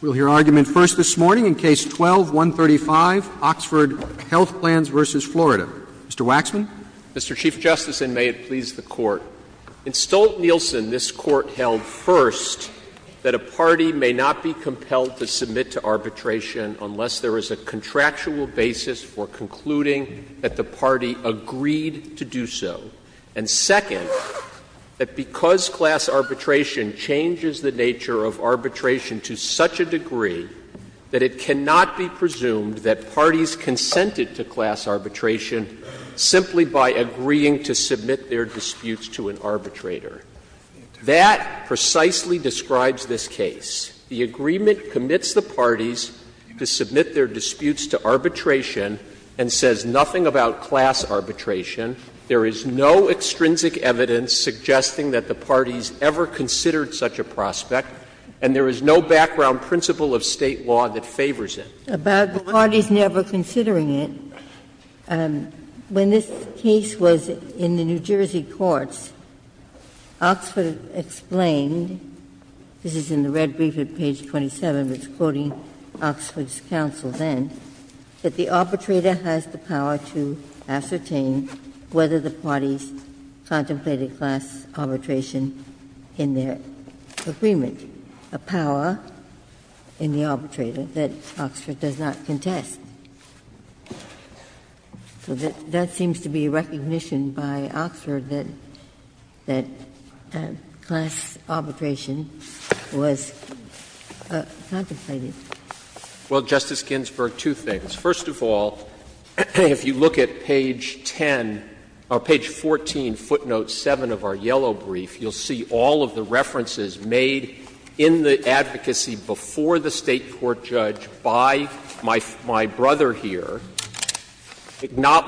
We'll hear argument first this morning in Case 12-135, Oxford Health Plans v. Florida. Mr. Waxman. Mr. Chief Justice, and may it please the Court, in Stolt-Nielsen, this Court held, first, that a party may not be compelled to submit to arbitration unless there is a contractual basis for concluding that the party agreed to do so, and, second, that because class arbitration changes the nature of arbitration to such a degree that it cannot be presumed that parties consented to class arbitration simply by agreeing to submit their disputes to an arbitrator. That precisely describes this case. The agreement commits the parties to submit their disputes to arbitration and says nothing about class arbitration. There is no extrinsic evidence suggesting that the parties ever considered such a prospect, and there is no background principle of State law that favors it. About the parties never considering it, when this case was in the New Jersey courts, Oxford explained, this is in the red brief at page 27, it's quoting Oxford's counsel then, that the arbitrator has the power to ascertain whether the parties contemplated class arbitration in their agreement, a power in the arbitrator that Oxford does not contest. So that seems to be a recognition by Oxford that class arbitration was contemplated. Well, Justice Ginsburg, two things. First of all, if you look at page 10, or page 14, footnote 7 of our yellow brief, you will see all of the references made in the advocacy before the State court judge by my brother here,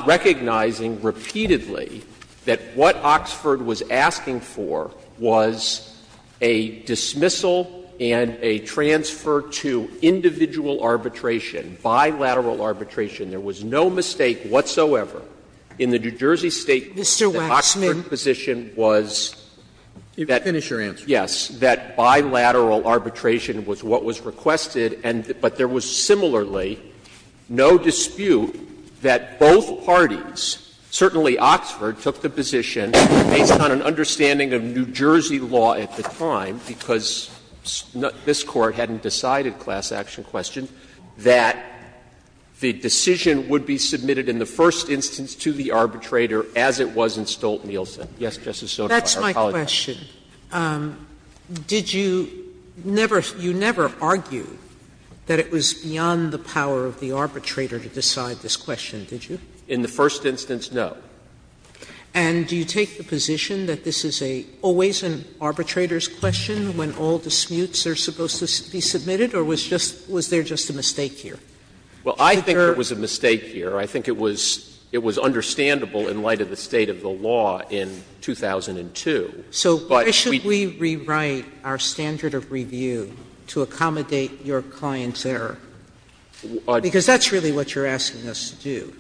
recognizing repeatedly that what Oxford was asking for was a dismissal and a transfer to individual arbitration, bilateral arbitration. There was no mistake whatsoever in the New Jersey State court that Oxford's position Sotomayor, Mr. Waxman, you can finish your answer. Yes, that bilateral arbitration was what was requested, but there was similarly no dispute that both parties, certainly Oxford, took the position based on an understanding of New Jersey law at the time, because this Court hadn't decided class action questions, that the decision would be submitted in the first instance to the arbitrator as it was in Stolt-Nielsen. Yes, Justice Sotomayor, I apologize. Sotomayor, did you never argue that it was beyond the power of the arbitrator to decide this question, did you? In the first instance, no. And do you take the position that this is always an arbitrator's question when all disputes are supposed to be submitted, or was there just a mistake here? Well, I think there was a mistake here. I think it was understandable in light of the state of the law in 2002. So why should we rewrite our standard of review to accommodate your client's error? Because that's really what you're asking us to do.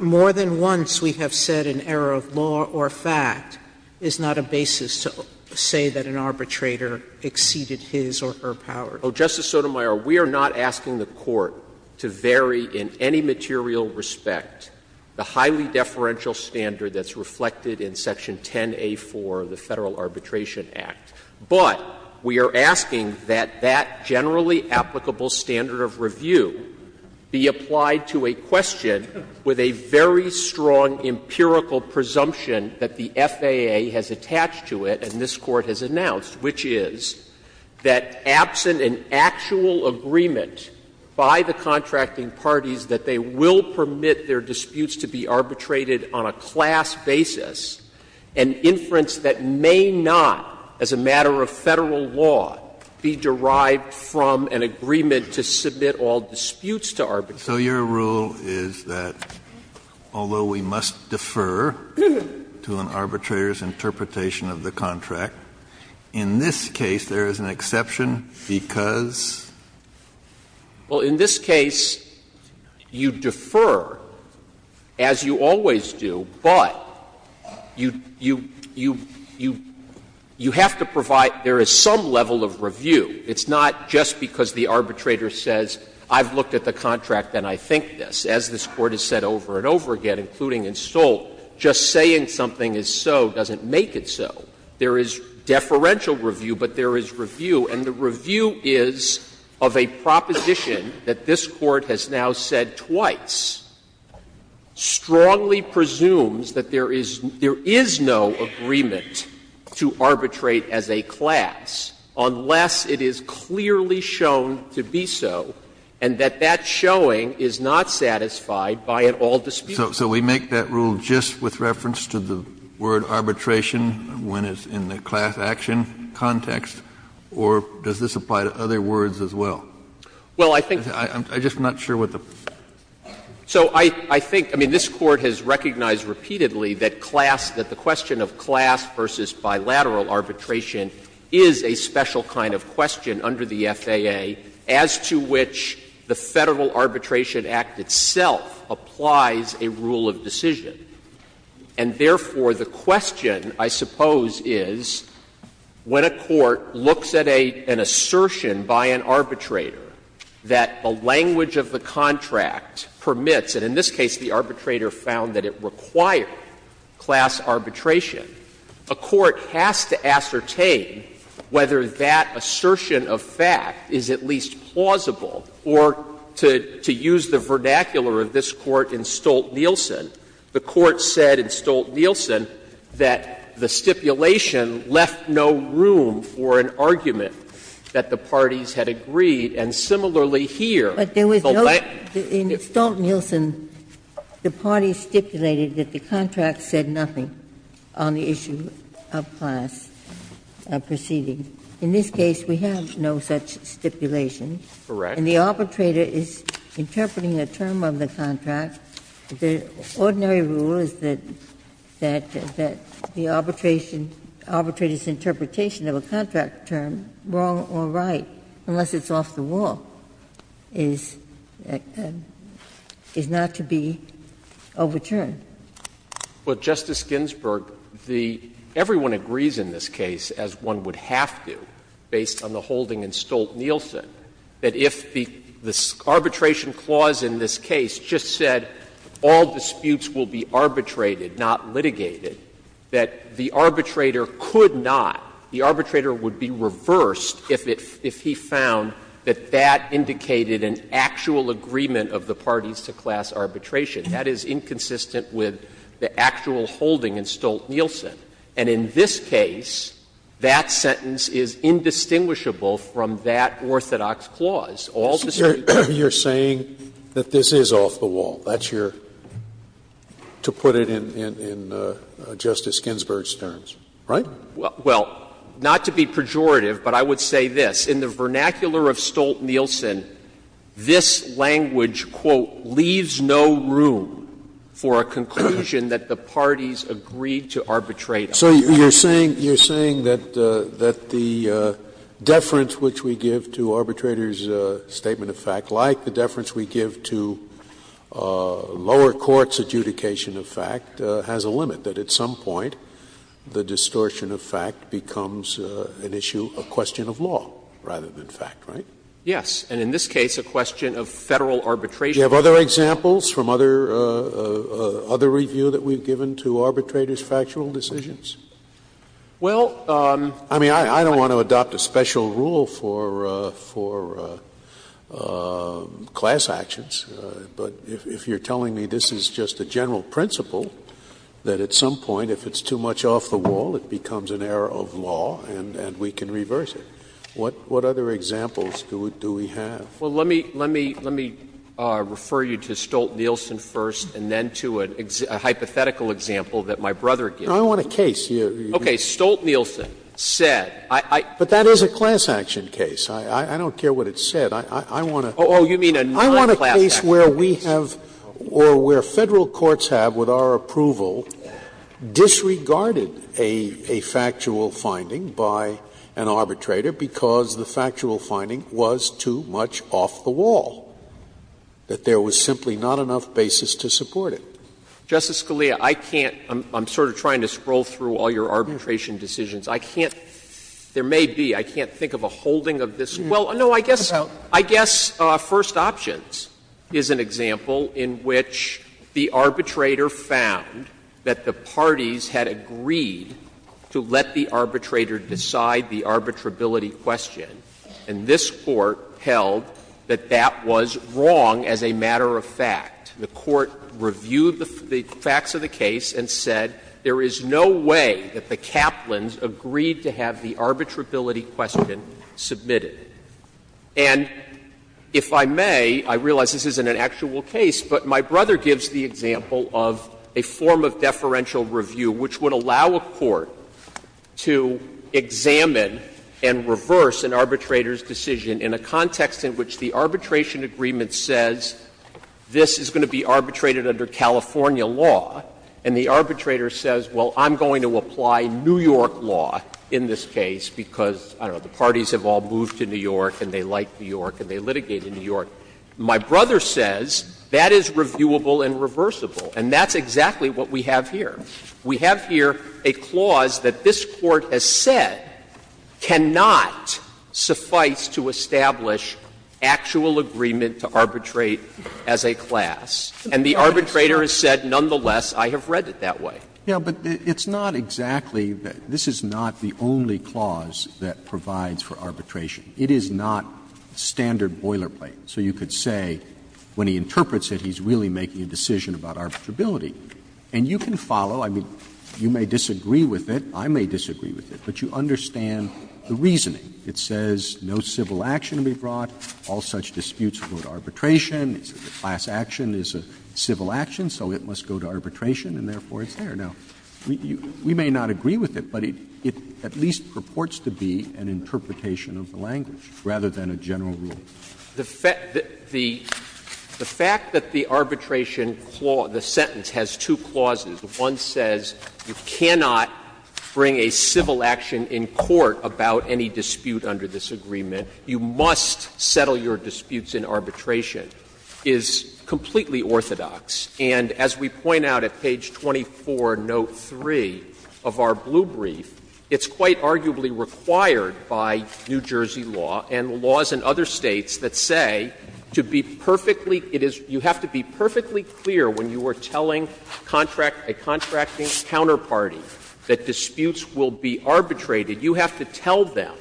More than once we have said an error of law or fact is not a basis to say that an arbitrator exceeded his or her power. Justice Sotomayor, we are not asking the Court to vary in any material respect the highly deferential standard that's reflected in section 10A4 of the Federal Arbitration Act. But we are asking that that generally applicable standard of review be applied to a question with a very strong empirical presumption that the FAA has attached to it and this Court has announced, which is that absent an actual agreement by the contracting parties that they will permit their disputes to be arbitrated on a class basis, an inference that may not, as a matter of Federal law, be derived from an agreement to submit all disputes to arbitration. Kennedy, so your rule is that although we must defer to an arbitrator's interpretation of the contract, in this case there is an exception because? Well, in this case you defer, as you always do, but you have to provide there is some level of review. It's not just because the arbitrator says, I've looked at the contract and I think this. As this Court has said over and over again, including in Stoll, just saying something is so doesn't make it so. There is deferential review, but there is review. And the review is of a proposition that this Court has now said twice, strongly presumes that there is no agreement to arbitrate as a class unless it is clearly shown to be so and that that showing is not satisfied by an all-dispute. So we make that rule just with reference to the word arbitration when it's in the class action context, or does this apply to other words as well? Well, I think. I'm just not sure what the. So I think, I mean, this Court has recognized repeatedly that class, that the question of class versus bilateral arbitration is a special kind of question under the FAA as to which the Federal Arbitration Act itself applies a rule of decision. And therefore, the question, I suppose, is when a court looks at an assertion by an arbitrator that a language of the contract permits, and in this case the arbitrator found that it required class arbitration, a court has to ascertain whether that assertion of fact is at least plausible or, to use the vernacular of this Court in Stolt-Nielsen, the Court said in Stolt-Nielsen that the stipulation left no room for an argument that the parties had agreed, and similarly here. But there was no, in Stolt-Nielsen, the parties stipulated that the contract said nothing on the issue of class proceeding. In this case, we have no such stipulation. Correct. And the arbitrator is interpreting a term of the contract. The ordinary rule is that the arbitration, arbitrator's interpretation of a contract term, wrong or right, unless it's off the wall, is not to be overturned. Well, Justice Ginsburg, the — everyone agrees in this case, as one would have to based on the holding in Stolt-Nielsen, that if the arbitration clause in this case just said all disputes will be arbitrated, not litigated, that the arbitrator could be reversed if he found that that indicated an actual agreement of the parties to class arbitration. That is inconsistent with the actual holding in Stolt-Nielsen. And in this case, that sentence is indistinguishable from that orthodox clause. All disputes would be. Scalia, you are saying that this is off the wall. That's your — to put it in Justice Ginsburg's terms, right? Well, not to be pejorative, but I would say this. In the vernacular of Stolt-Nielsen, this language, quote, leaves no room for a conclusion that the parties agreed to arbitrate on. So you're saying that the deference which we give to arbitrators' statement of fact, like the deference we give to lower courts' adjudication of fact, has a limit? That at some point, the distortion of fact becomes an issue, a question of law, rather than fact, right? Yes. And in this case, a question of Federal arbitration. Do you have other examples from other — other review that we've given to arbitrators' factual decisions? Well, I mean, I don't want to adopt a special rule for — for class actions. But if you're telling me this is just a general principle, that at some point, if it's too much off the wall, it becomes an error of law and we can reverse it, what other examples do we have? Well, let me — let me refer you to Stolt-Nielsen first and then to a hypothetical example that my brother gave. I want a case. Okay. Stolt-Nielsen said I — But that is a class action case. I want a— Oh, you mean a non-class action case. I want a case where we have — or where Federal courts have, with our approval, disregarded a factual finding by an arbitrator because the factual finding was too much off the wall, that there was simply not enough basis to support it. Justice Scalia, I can't — I'm sort of trying to scroll through all your arbitration decisions. I can't — there may be, I can't think of a holding of this. Well, no, I guess — I guess First Options is an example in which the arbitrator found that the parties had agreed to let the arbitrator decide the arbitrability question, and this Court held that that was wrong as a matter of fact. The Court reviewed the facts of the case and said there is no way that the Kaplans agreed to have the arbitrability question submitted. And if I may, I realize this isn't an actual case, but my brother gives the example of a form of deferential review which would allow a court to examine and reverse an arbitrator's decision in a context in which the arbitration agreement says this is going to be arbitrated under California law, and the arbitrator says, well, I'm not going to apply New York law in this case because, I don't know, the parties have all moved to New York and they like New York and they litigate in New York. My brother says that is reviewable and reversible, and that's exactly what we have here. We have here a clause that this Court has said cannot suffice to establish actual agreement to arbitrate as a class, and the arbitrator has said, nonetheless, I have read it that way. Roberts It's not exactly that this is not the only clause that provides for arbitration. It is not standard boilerplate. So you could say when he interprets it, he's really making a decision about arbitrability. And you can follow, I mean, you may disagree with it, I may disagree with it, but you understand the reasoning. It says no civil action to be brought, all such disputes go to arbitration, the class action is a civil action, so it must go to arbitration, and therefore it's there. Now, we may not agree with it, but it at least purports to be an interpretation of the language rather than a general rule. Waxman The fact that the arbitration clause, the sentence has two clauses. One says you cannot bring a civil action in court about any dispute under this agreement. You must settle your disputes in arbitration, is completely orthodox. And as we point out at page 24, note 3 of our blue brief, it's quite arguably required by New Jersey law and laws in other States that say to be perfectly you have to be perfectly clear when you are telling a contracting counterparty that disputes will be arbitrated, you have to tell them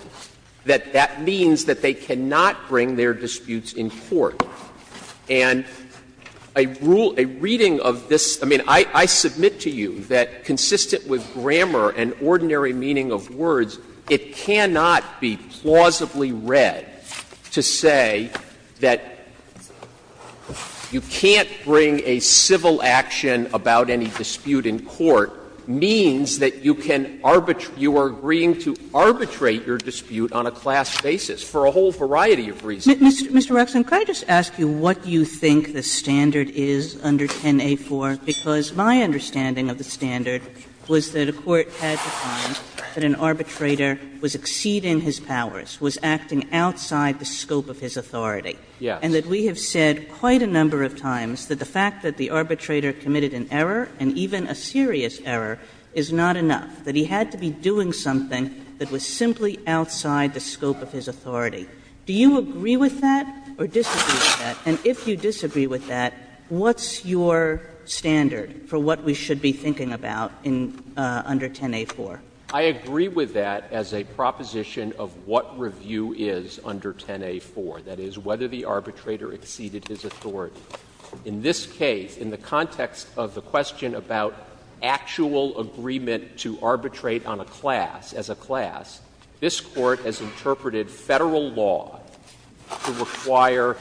that that means that they cannot bring their disputes in court. And a rule, a reading of this, I mean, I submit to you that consistent with grammar and ordinary meaning of words, it cannot be plausibly read to say that you can't bring a civil action about any dispute in court means that you can arbitrate, you are agreeing to arbitrate your dispute on a class basis for a whole variety of reasons. Mr. Waxman, can I just ask you what you think the standard is under 10a4? Because my understanding of the standard was that a court had to find that an arbitrator was exceeding his powers, was acting outside the scope of his authority. Waxman Yes. Kagan And that we have said quite a number of times that the fact that the arbitrator committed an error and even a serious error is not enough, that he had to be doing something that was simply outside the scope of his authority. Do you agree with that or disagree with that? And if you disagree with that, what's your standard for what we should be thinking about in under 10a4? Waxman I agree with that as a proposition of what review is under 10a4, that is, whether the arbitrator exceeded his authority. In this case, in the context of the question about actual agreement to arbitrate on a class, as a class, this Court has interpreted Federal law to require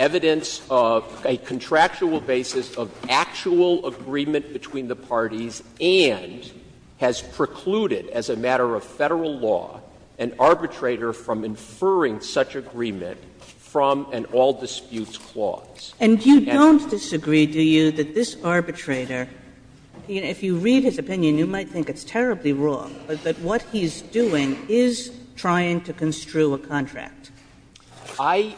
evidence of a contractual basis of actual agreement between the parties and has precluded as a matter of Federal law an arbitrator from inferring such agreement from an all-dispute And that's it. Kagan And you don't disagree, do you, that this arbitrator, if you read his opinion, you might think it's terribly wrong, but that what he's doing is trying to construe Waxman I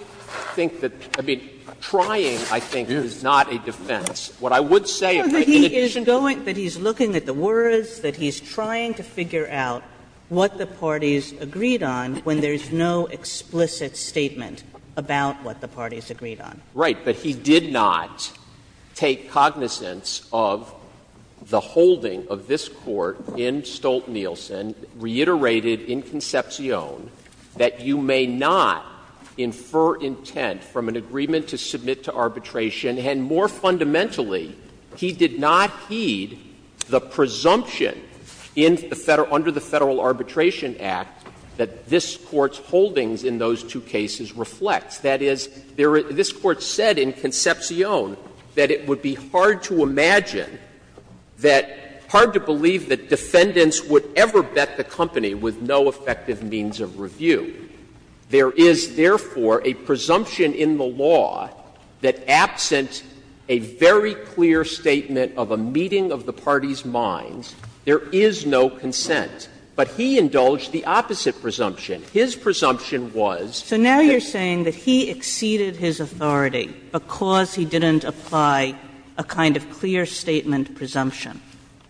think that the trying, I think, is not a defense. What I would say is that he's going, that he's looking at the words, that he's trying to figure out what the parties agreed on when there's no explicit statement about what the parties agreed on. Waxman Right. But he did not take cognizance of the holding of this Court in Stolt-Nielsen, reiterated in Concepcion, that you may not infer intent from an agreement to submit to arbitration, and more fundamentally, he did not heed the presumption under the Federal Arbitration Act that this Court's holdings in those two cases reflect. That is, this Court said in Concepcion that it would be hard to imagine that, hard to believe that defendants would ever bet the company with no effective means of review. There is, therefore, a presumption in the law that absent a very clear statement of a meeting of the parties' minds, there is no consent. But he indulged the opposite presumption. His presumption was that he exceeded his authority because he didn't apply a kind of clear statement presumption.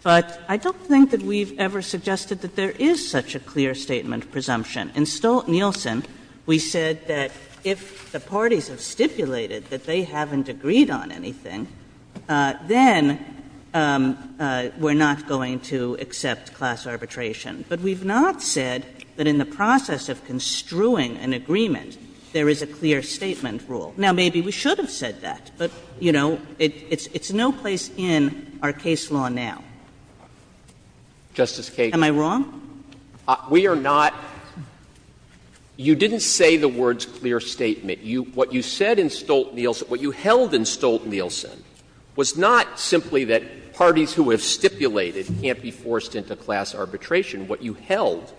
But I don't think that we've ever suggested that there is such a clear statement presumption. In Stolt-Nielsen, we said that if the parties have stipulated that they haven't agreed on anything, then we're not going to accept class arbitration. But we've not said that in the process of construing an agreement, there is a clear statement rule. Now, maybe we should have said that, but, you know, it's no place in our case law now. Am I wrong? We are not — you didn't say the words clear statement. What you said in Stolt-Nielsen, what you held in Stolt-Nielsen, was not simply that parties who have stipulated can't be forced into class arbitration. What you held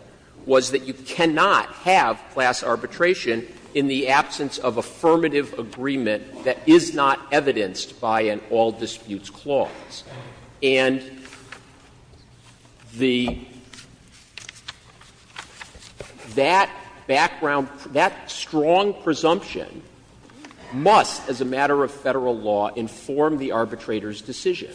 was that you cannot have class arbitration in the absence of affirmative agreement that is not evidenced by an all-disputes clause. And the — that background — that strong presumption must, as a matter of Federal law, inform the arbitrator's decision.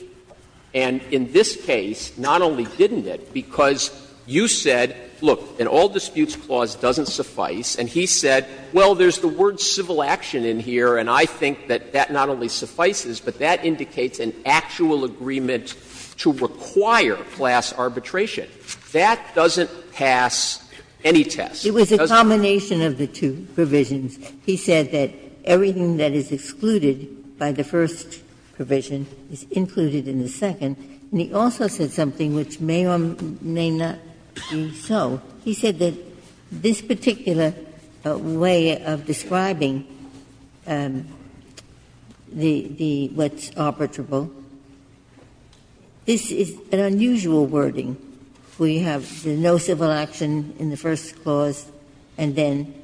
And in this case, not only didn't it, because you said, look, an all-disputes clause doesn't suffice, and he said, well, there's the word civil action in here, and I think that that not only suffices, but that indicates an actual agreement to require class arbitration. That doesn't pass any test. It doesn't pass any test. Ginsburg. But in the combination of the two provisions, he said that everything that is excluded by the first provision is included in the second. And he also said something which may or may not be so. He said that this particular way of describing the — the what's arbitrable, this is an unusual wording. We have the no civil action in the first clause and then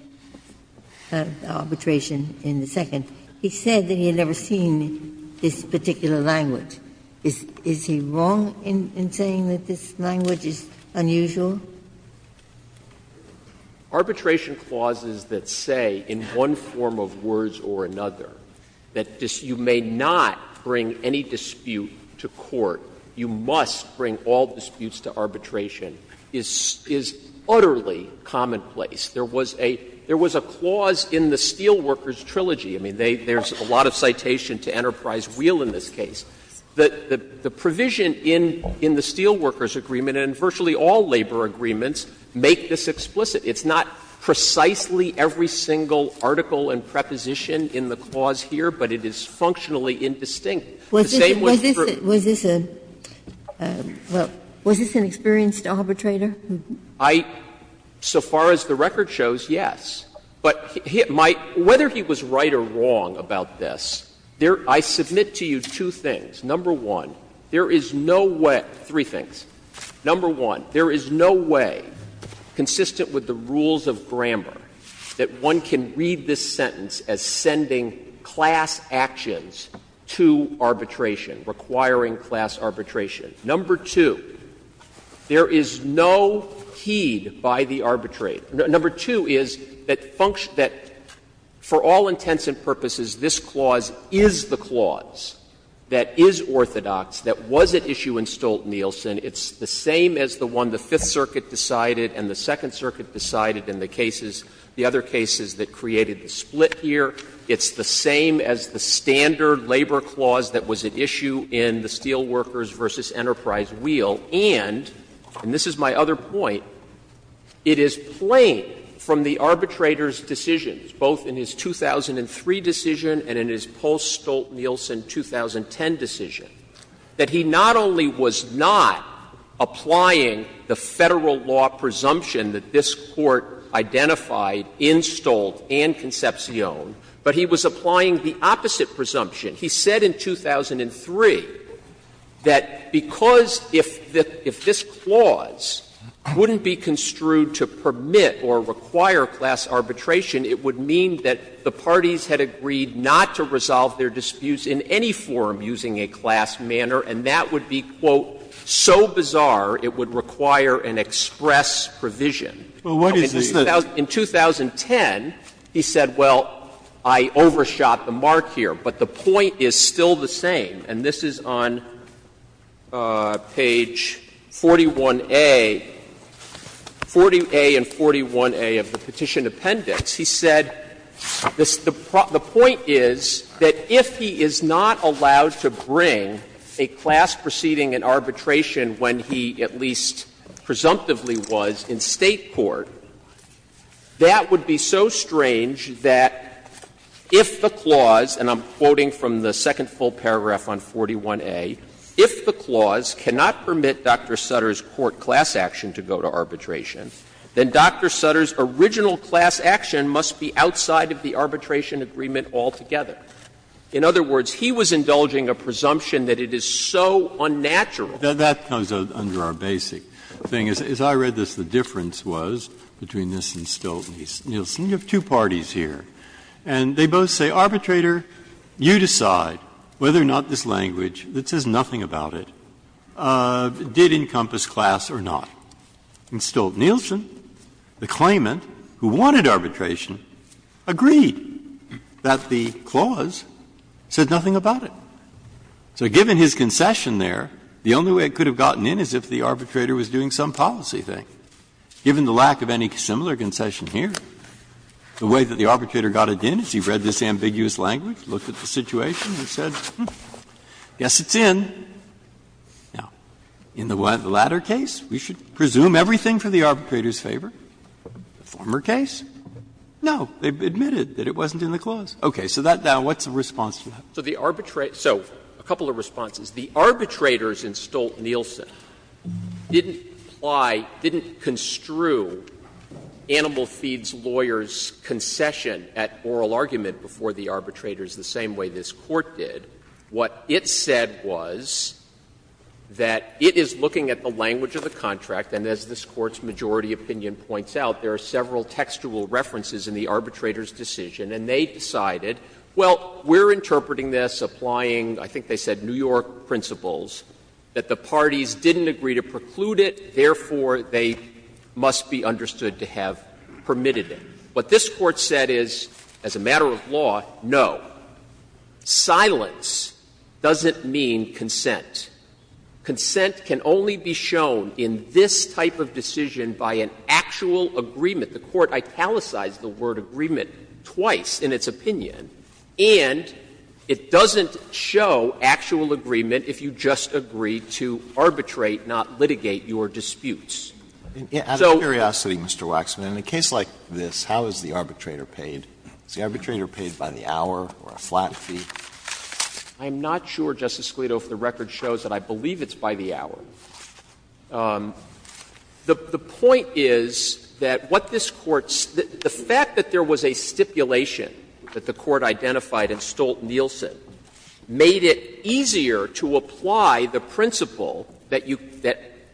arbitration in the second. He said that he had never seen this particular language. Is he wrong in saying that this language is unusual? Waxman, Arbitration clauses that say, in one form of words or another, that you may not bring any dispute to court, you must bring all disputes to arbitration, is utterly commonplace. There was a clause in the Steelworkers Trilogy. I mean, there's a lot of citation to Enterprise Wheel in this case. The provision in the Steelworkers Agreement and virtually all labor agreements make this explicit. It's not precisely every single article and preposition in the clause here, but it is functionally indistinct. The same was true. Ginsburg. Was this a — well, was this an experienced arbitrator? I, so far as the record shows, yes. But my — whether he was right or wrong about this, I submit to you two things. Number one, there is no way — three things. Number one, there is no way, consistent with the rules of grammar, that one can read this sentence as sending class actions to arbitration, requiring class arbitration. Number two, there is no heed by the arbitrator. Number two is that for all intents and purposes, this clause is the clause that is orthodox, that was at issue in Stolt-Nielsen. It's the same as the one the Fifth Circuit decided and the Second Circuit decided and the cases, the other cases that created the split here. It's the same as the standard labor clause that was at issue in the Steelworkers v. Enterprise wheel. And, and this is my other point, it is plain from the arbitrator's decisions, both in his 2003 decision and in his post-Stolt-Nielsen 2010 decision, that he not only was not applying the Federal law presumption that this Court identified in Stolt and Concepcion, but he was applying the opposite presumption. He said in 2003 that because if this clause wouldn't be construed to permit or require class arbitration, it would mean that the parties had agreed not to resolve their case, that it would be, quote, so bizarre it would require an express provision. In 2010, he said, well, I overshot the mark here, but the point is still the same. And this is on page 41A, 40A and 41A of the Petition Appendix. He said the point is that if he is not allowed to bring a class proceeding in arbitration when he at least presumptively was in State court, that would be so strange that if the clause, and I'm quoting from the second full paragraph on 41A, if the clause cannot permit Dr. Sutter's court class action to go to arbitration, then Dr. Sutter's original class action must be outside of the arbitration agreement altogether. In other words, he was indulging a presumption that it is so unnatural. Breyer. That comes under our basic thing. As I read this, the difference was between this and Stolt and Nielsen. You have two parties here, and they both say, arbitrator, you decide whether or not this language that says nothing about it did encompass class or not. In Stolt-Nielsen, the claimant who wanted arbitration agreed that the clause said nothing about it. So given his concession there, the only way it could have gotten in is if the arbitrator was doing some policy thing. Given the lack of any similar concession here, the way that the arbitrator got it in is he read this ambiguous language, looked at the situation and said, hmm, I guess it's in. Now, in the latter case, we should presume everything for the arbitrator's favor. The former case, no, they admitted that it wasn't in the clause. Okay. So that now, what's the response to that? So the arbitrator — so a couple of responses. The arbitrators in Stolt-Nielsen didn't apply, didn't construe Animal Feeds' lawyer's concession at oral argument before the arbitrators the same way this Court did. What it said was that it is looking at the language of the contract, and as this Court's majority opinion points out, there are several textual references in the arbitrator's decision, and they decided, well, we're interpreting this, applying, I think they said, New York principles, that the parties didn't agree to preclude it, therefore they must be understood to have permitted it. What this Court said is, as a matter of law, no. Silence doesn't mean consent. Consent can only be shown in this type of decision by an actual agreement. The Court italicized the word agreement twice in its opinion. And it doesn't show actual agreement if you just agree to arbitrate, not litigate your disputes. So. Alitoro, Mr. Waxman, in a case like this, how is the arbitrator paid? Is the arbitrator paid by the hour or a flat fee? I'm not sure, Justice Alito, if the record shows that I believe it's by the hour. The point is that what this Court's the fact that there was a stipulation that the Court identified in Stolt-Nielsen made it easier to apply the principle that you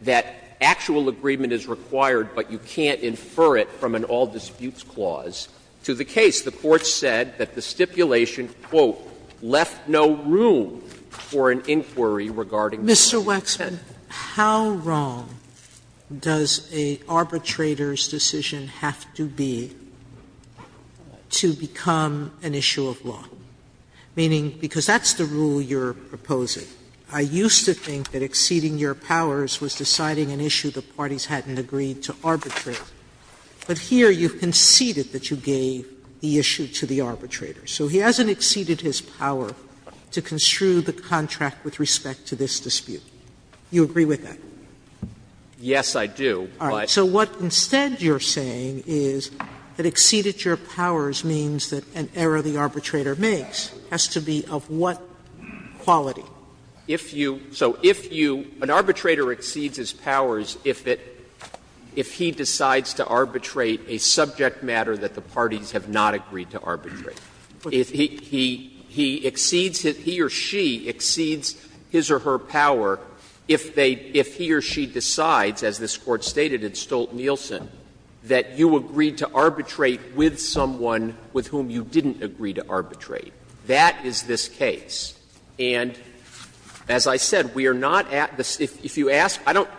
that actual agreement is required, but you can't infer it from an all-disputes clause to the case. The Court said that the stipulation, quote, left no room for an inquiry regarding the case. Sotomayor, Mr. Waxman, how wrong does a arbitrator's decision have to be to become an issue of law? Meaning, because that's the rule you're proposing. I used to think that exceeding your powers was deciding an issue the parties hadn't agreed to arbitrate. But here you conceded that you gave the issue to the arbitrator. So he hasn't exceeded his power to construe the contract with respect to this dispute. Do you agree with that? Waxman, Yes, I do, but. Sotomayor, So what instead you're saying is that exceeded your powers means that an error the arbitrator makes has to be of what quality? Waxman, If you, so if you, an arbitrator exceeds his powers if it, if he decides to arbitrate a subject matter that the parties have not agreed to arbitrate. If he, he, he exceeds, he or she exceeds his or her power if they, if he or she decides, as this Court stated in Stolt-Nielsen, that you agreed to arbitrate with someone with whom you didn't agree to arbitrate. That is this case. And as I said, we are not at the, if you ask, I don't,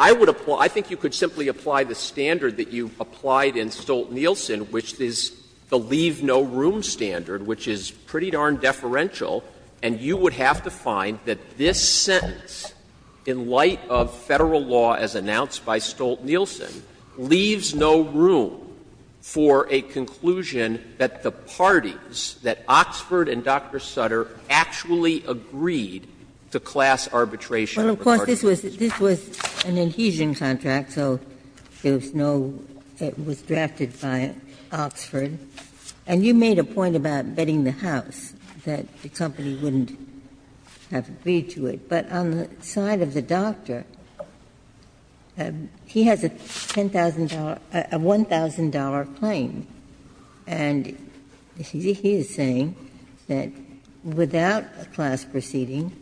I would apply, I think you could simply apply the standard that you applied in Stolt-Nielsen, which is the leave no room standard, which is pretty darn deferential. And you would have to find that this sentence, in light of Federal law as announced by Stolt-Nielsen, leaves no room for a conclusion that the parties, that Oxford and Dr. Sutter, actually agreed to class arbitration of the parties. Ginsburg. Well, of course, this was, this was an adhesion contract, so there was no, it was drafted by Oxford. And you made a point about betting the house, that the company wouldn't have agreed to it. But on the side of the doctor, he has a $10,000, a $1,000 claim, and he is saying that without a class proceeding,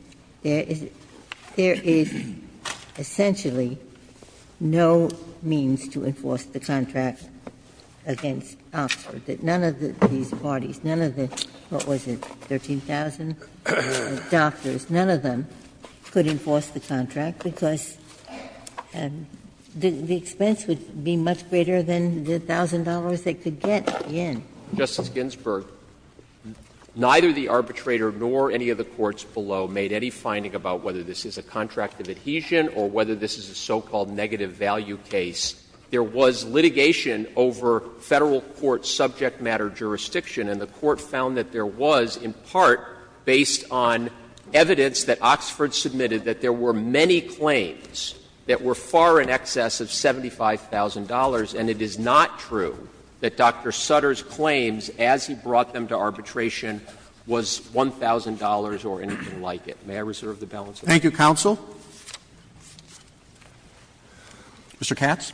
there is, there is essentially no means to enforce the contract against Oxford, that none of these parties, none of the, what was it, 13,000 doctors, none of them could enforce the contract, because the expense would be much greater than the $1,000 they could get in. Justice Ginsburg, neither the arbitrator nor any of the courts below made any finding about whether this is a contract of adhesion or whether this is a so-called negative value case. There was litigation over Federal court subject matter jurisdiction, and the Court found that there was, in part, based on evidence that Oxford submitted, that there were many claims that were far in excess of $75,000, and it is not true that Dr. Sutter's claims as he brought them to arbitration was $1,000 or anything like it. May I reserve the balance of my time? Roberts. Thank you, counsel. Mr. Katz.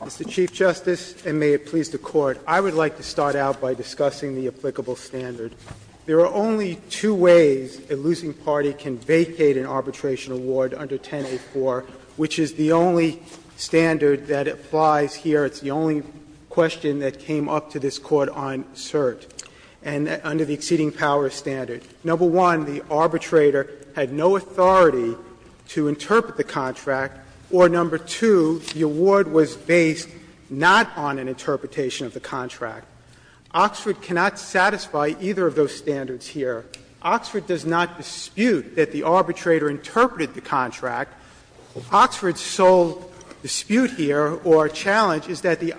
Mr. Chief Justice, and may it please the Court, I would like to start out by discussing the applicable standard. There are only two ways a losing party can vacate an arbitration award under 1084, which is the only standard that applies here. It's the only question that came up to this Court on cert, and under the exceeding power standard. Number one, the arbitrator had no authority to interpret the contract, or number two, the award was based not on an interpretation of the contract. Oxford cannot satisfy either of those standards here. Oxford does not dispute that the arbitrator interpreted the contract. Oxford's sole dispute here or challenge is that the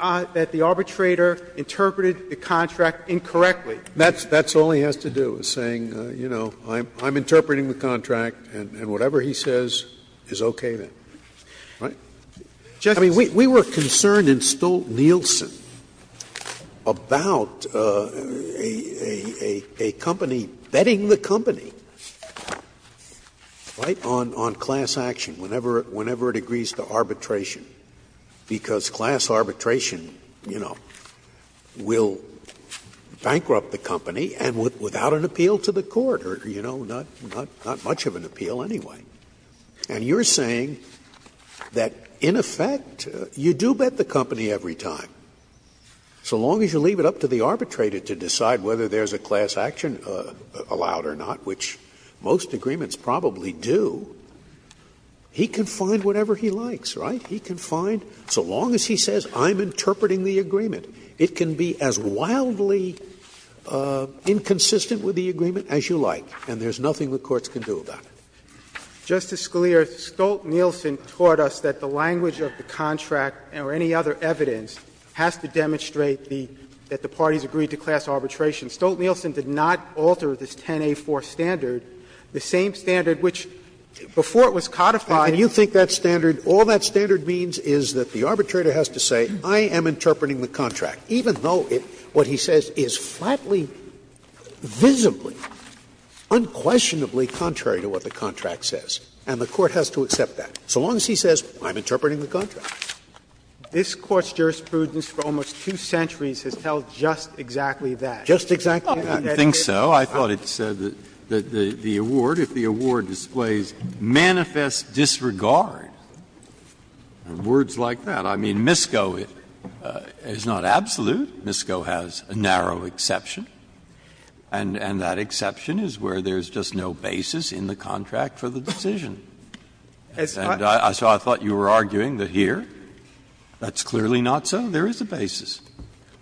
arbitrator interpreted the contract incorrectly. That's all he has to do, is saying, you know, I'm interpreting the contract and whatever he says is okay then, right? I mean, we were concerned in Stolt-Nielsen about a company betting the company, right, on class action, whenever it agrees to arbitration, because class arbitration, you know, will bankrupt the company and without an appeal to the court, or, you know, not much of an appeal anyway. And you're saying that in effect you do bet the company every time, so long as you leave it up to the arbitrator to decide whether there's a class action allowed or not, which most agreements probably do, he can find whatever he likes, right? He can find, so long as he says, I'm interpreting the agreement, it can be as wildly inconsistent with the agreement as you like, and there's nothing the courts can do about it. Justice Scalia, Stolt-Nielsen taught us that the language of the contract or any other evidence has to demonstrate the — that the parties agreed to class arbitration. Stolt-Nielsen did not alter this 10A4 standard, the same standard which, before it was codified. And you think that standard, all that standard means is that the arbitrator has to say, I am interpreting the contract, even though it, what he says, is flatly, visibly, unquestionably contrary to what the contract says, and the court has to accept that, so long as he says, I'm interpreting the contract. This Court's jurisprudence for almost two centuries has held just exactly that. Just exactly that. I think so. Breyer, I thought it said that the award, if the award displays, manifest disregard. Words like that. I mean, MISCO is not absolute. MISCO has a narrow exception. And that exception is where there is just no basis in the contract for the decision. And so I thought you were arguing that here, that's clearly not so. There is a basis.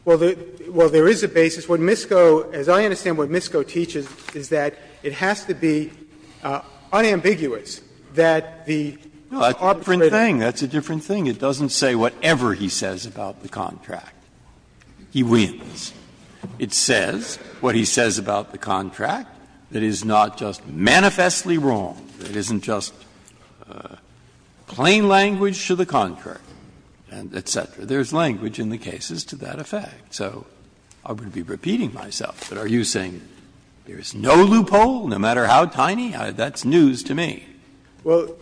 Well, there is a basis. What MISCO, as I understand what MISCO teaches, is that it has to be unambiguous that the arbitrator. Breyer, that's a different thing. It doesn't say whatever he says about the contract. He wins. It says what he says about the contract that is not just manifestly wrong, that isn't just plain language to the contract, et cetera. There is language in the cases to that effect. So I wouldn't be repeating myself, but are you saying there is no loophole, no matter how tiny? That's news to me. Well,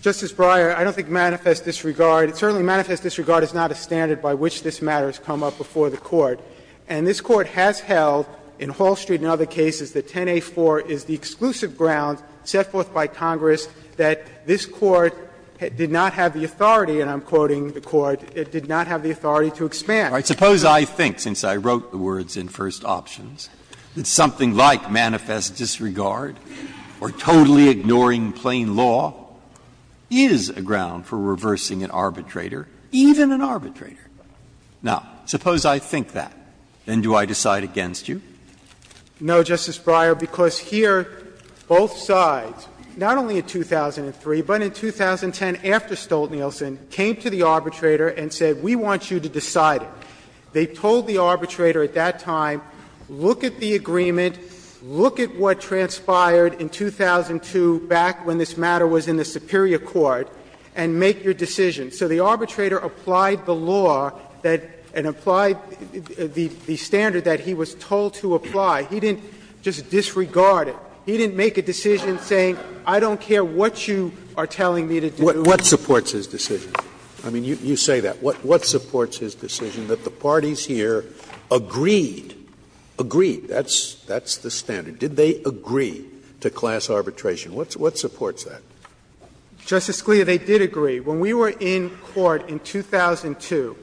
Justice Breyer, I don't think manifest disregard, certainly manifest disregard is not a standard by which this matter has come up before the Court. And this Court has held in Hall Street and other cases that 10a.4 is the exclusive ground set forth by Congress that this Court did not have the authority, and I'm quoting the Court, it did not have the authority to expand. Suppose I think, since I wrote the words in First Options, that something like manifest disregard or totally ignoring plain law is a ground for reversing an arbitrator, even an arbitrator. Now, suppose I think that. Then do I decide against you? No, Justice Breyer, because here both sides, not only in 2003, but in 2010 after Stolt-Nielsen came to the arbitrator and said, we want you to decide it. They told the arbitrator at that time, look at the agreement, look at what transpired in 2002 back when this matter was in the superior court, and make your decision. So the arbitrator applied the law that and applied the standard that he was told to apply. He didn't just disregard it. He didn't make a decision saying, I don't care what you are telling me to do. Scalia, what supports his decision? I mean, you say that. What supports his decision that the parties here agreed, agreed, that's the standard. Did they agree to class arbitration? What supports that? Justice Scalia, they did agree. When we were in court in 2002,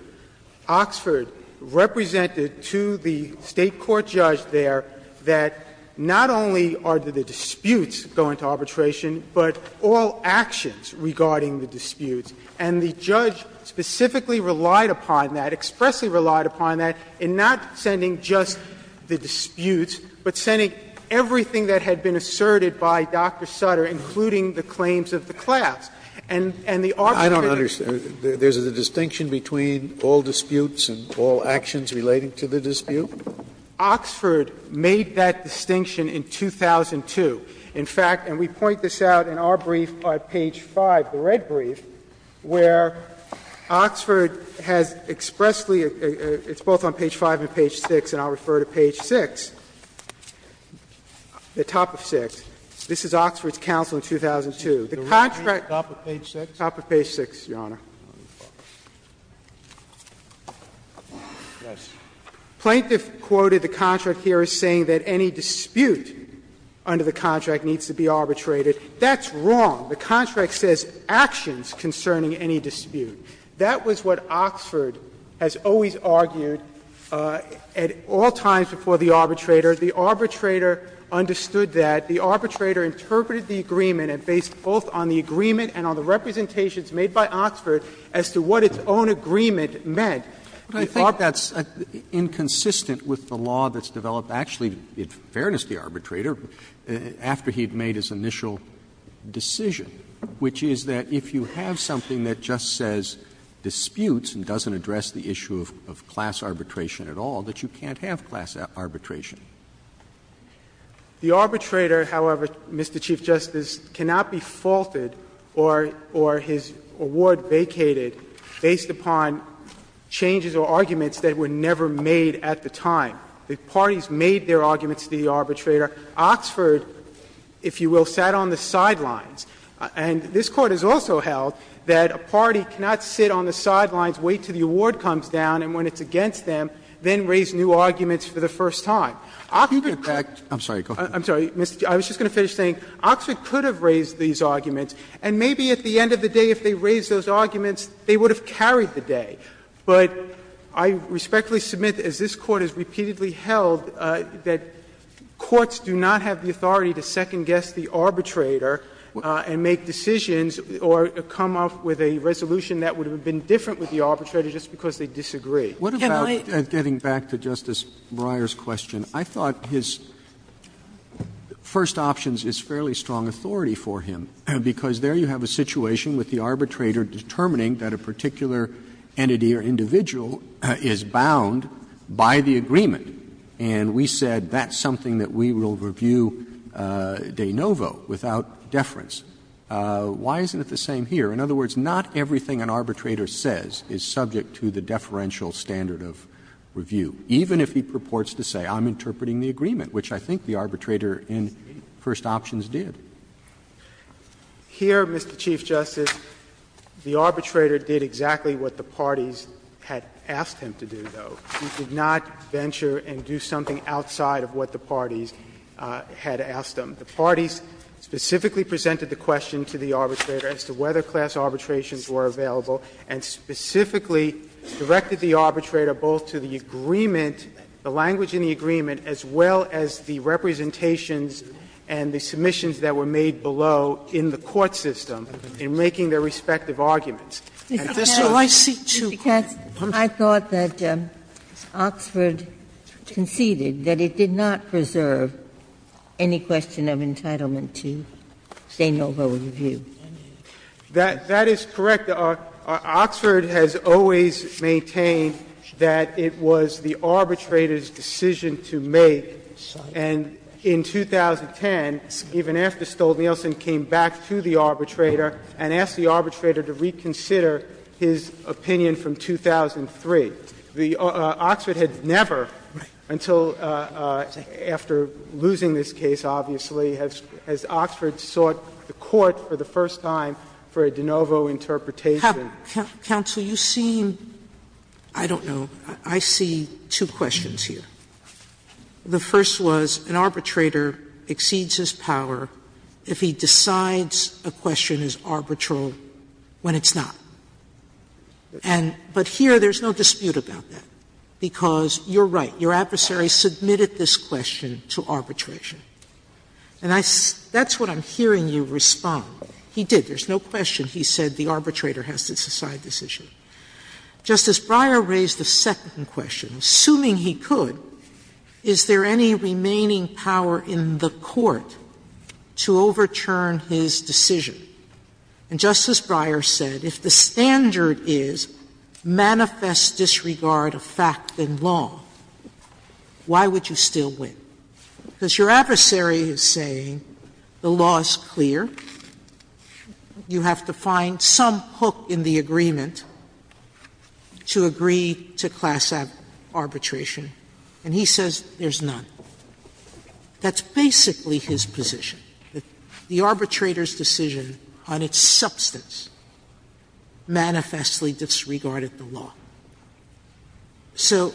Oxford represented to the State court judge there that not only are the disputes going to arbitration, but all actions regarding the disputes. And the judge specifically relied upon that, expressly relied upon that, in not sending just the disputes, but sending everything that had been asserted by Dr. Sutter, including the claims of the class. And the arbitrator didn't. I don't understand. There's a distinction between all disputes and all actions relating to the dispute? Oxford made that distinction in 2002. In fact, and we point this out in our brief on page 5, the red brief, where Oxford has expressly – it's both on page 5 and page 6, and I'll refer to page 6, the top of 6. This is Oxford's counsel in 2002. The contract – The red brief, top of page 6? Top of page 6, Your Honor. The contract says actions concerning any dispute. That was what Oxford has always argued at all times before the arbitrator. The arbitrator understood that. The arbitrator interpreted the agreement and based both on the agreement and on the representations made by Oxford as to what its own agreement meant. Roberts. Roberts. That's inconsistent with the law that's developed, actually, in fairness to the arbitrator, after he had made his initial decision, which is that if you have something that just says disputes and doesn't address the issue of class arbitration at all, that you can't have class arbitration. The arbitrator, however, Mr. Chief Justice, cannot be faulted or his award vacated based upon changes or arguments that were never made at the time. The parties made their arguments to the arbitrator. Oxford, if you will, sat on the sidelines. And this Court has also held that a party cannot sit on the sidelines, wait until the award comes down, and when it's against them, then raise new arguments for the first time. I was just going to finish saying Oxford could have raised these arguments, and maybe at the end of the day, if they raised those arguments, they would have carried the day. But I respectfully submit, as this Court has repeatedly held, that courts do not have the authority to second-guess the arbitrator and make decisions or come up with a resolution that would have been different with the arbitrator just because they disagree. Sotomayor, getting back to Justice Breyer's question, I thought his first options is fairly strong authority for him, because there you have a situation with the arbitrator determining that a particular entity or individual is bound by the agreement. And we said that's something that we will review de novo, without deference. Why isn't it the same here? In other words, not everything an arbitrator says is subject to the deferential standard of review, even if he purports to say, I'm interpreting the agreement, which I think the arbitrator in first options did. Here, Mr. Chief Justice, the arbitrator did exactly what the parties had asked him to do, though. He did not venture and do something outside of what the parties had asked him. The parties specifically presented the question to the arbitrator as to whether class arbitrations were available, and specifically directed the arbitrator both to the agreement, the language in the agreement, as well as the representations and the submissions that were made below in the court system in making their respective arguments. And this was the case. Sotomayor, I thought that Oxford conceded that it did not preserve any question of entitlement to de novo review. That is correct. Oxford has always maintained that it was the arbitrator's decision to make. And in 2010, even after Stoltenhielsen came back to the arbitrator and asked the arbitrator to reconsider his opinion from 2003, the Oxford had never, until after losing this case, obviously, has Oxford sought the court for the first time for a de novo interpretation of the case. Sotomayor, you seem, I don't know, I see two questions here. The first was an arbitrator exceeds his power if he decides a question is arbitral when it's not. And but here there's no dispute about that, because you're right, your adversary submitted this question to arbitration. And that's what I'm hearing you respond. He did. There's no question he said the arbitrator has to decide this issue. Justice Breyer raised the second question. Assuming he could, is there any remaining power in the court to overturn his decision? And Justice Breyer said if the standard is manifest disregard of fact and law, why would you still win? Because your adversary is saying the law is clear, you have to find some hook in the agreement to agree to class arbitration, and he says there's none. That's basically his position, that the arbitrator's decision on its substance manifestly disregarded the law. So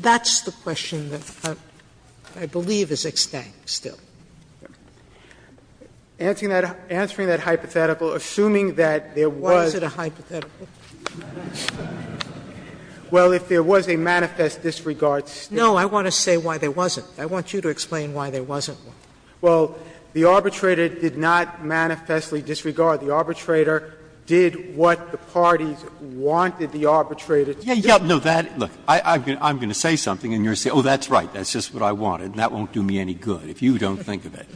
that's the question that I believe is extant still. Answering that hypothetical, assuming that there was a hypothetical. Well, if there was a manifest disregard. No, I want to say why there wasn't. I want you to explain why there wasn't one. Well, the arbitrator did not manifestly disregard. The arbitrator did what the parties wanted the arbitrator to do. Yeah, yeah, no, that, look, I'm going to say something and you're going to say, oh, that's right, that's just what I wanted, and that won't do me any good, if you don't think of it.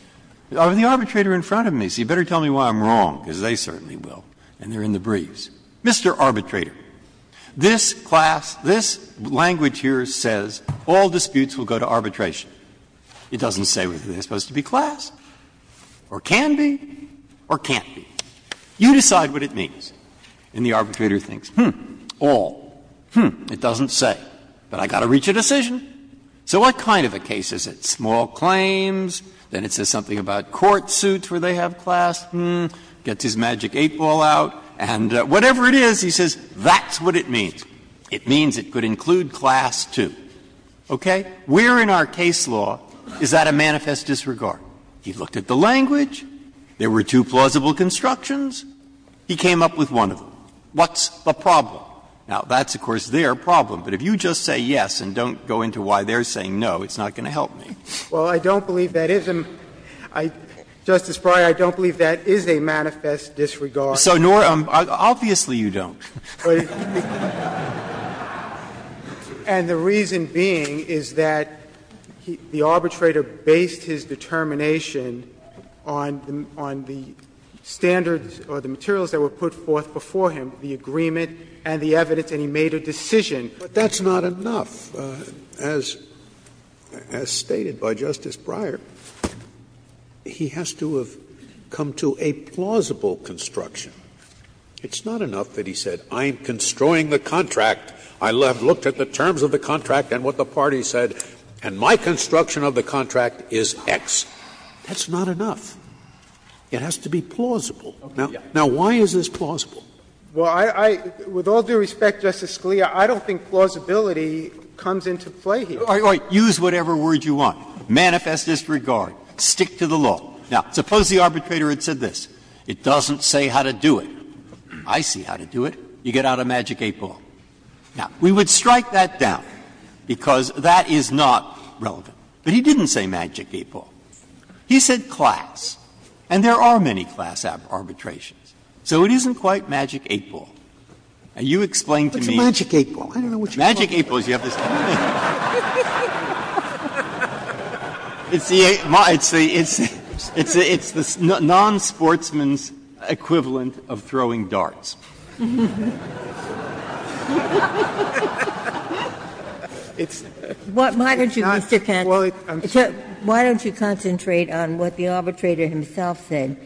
The arbitrator in front of me, so you better tell me why I'm wrong, because they certainly will, and they're in the briefs. Mr. Arbitrator, this class, this language here says all disputes will go to arbitration. It doesn't say whether they're supposed to be class or can be or can't be. You decide what it means. And the arbitrator thinks, hmm, all, hmm, it doesn't say, but I've got to reach a decision. So what kind of a case is it? Small claims, then it says something about court suits where they have class, hmm, gets his magic 8-ball out, and whatever it is, he says, that's what it means. It means it could include class, too. Okay? We're in our case law. Is that a manifest disregard? He looked at the language. There were two plausible constructions. He came up with one of them. What's the problem? Now, that's, of course, their problem. But if you just say yes and don't go into why they're saying no, it's not going to help me. Well, I don't believe that is a ‑‑ Justice Breyer, I don't believe that is a manifest disregard. So nor ‑‑ obviously you don't. And the reason being is that the arbitrator based his determination on the fact that the ‑‑ on the standards or the materials that were put forth before him, the agreement and the evidence, and he made a decision. But that's not enough. As stated by Justice Breyer, he has to have come to a plausible construction. It's not enough that he said, I'm constroying the contract. I looked at the terms of the contract and what the parties said, and my construction of the contract is X. That's not enough. It has to be plausible. Now, why is this plausible? Well, I ‑‑ with all due respect, Justice Scalia, I don't think plausibility comes into play here. All right. Use whatever word you want. Manifest disregard. Stick to the law. Now, suppose the arbitrator had said this. It doesn't say how to do it. I see how to do it. You get out a magic eight ball. Now, we would strike that down, because that is not relevant. But he didn't say magic eight ball. He said class. And there are many class arbitrations. So it isn't quite magic eight ball. And you explain to me ‑‑ Scalia What's a magic eight ball? I don't know what you're talking about. Breyer Magic eight ball is the other thing. It's the non‑sportsman's equivalent of throwing darts. It's not ‑‑ Ginsburg Why don't you, Mr. Panner, why don't you concentrate on what the arbitrator himself said?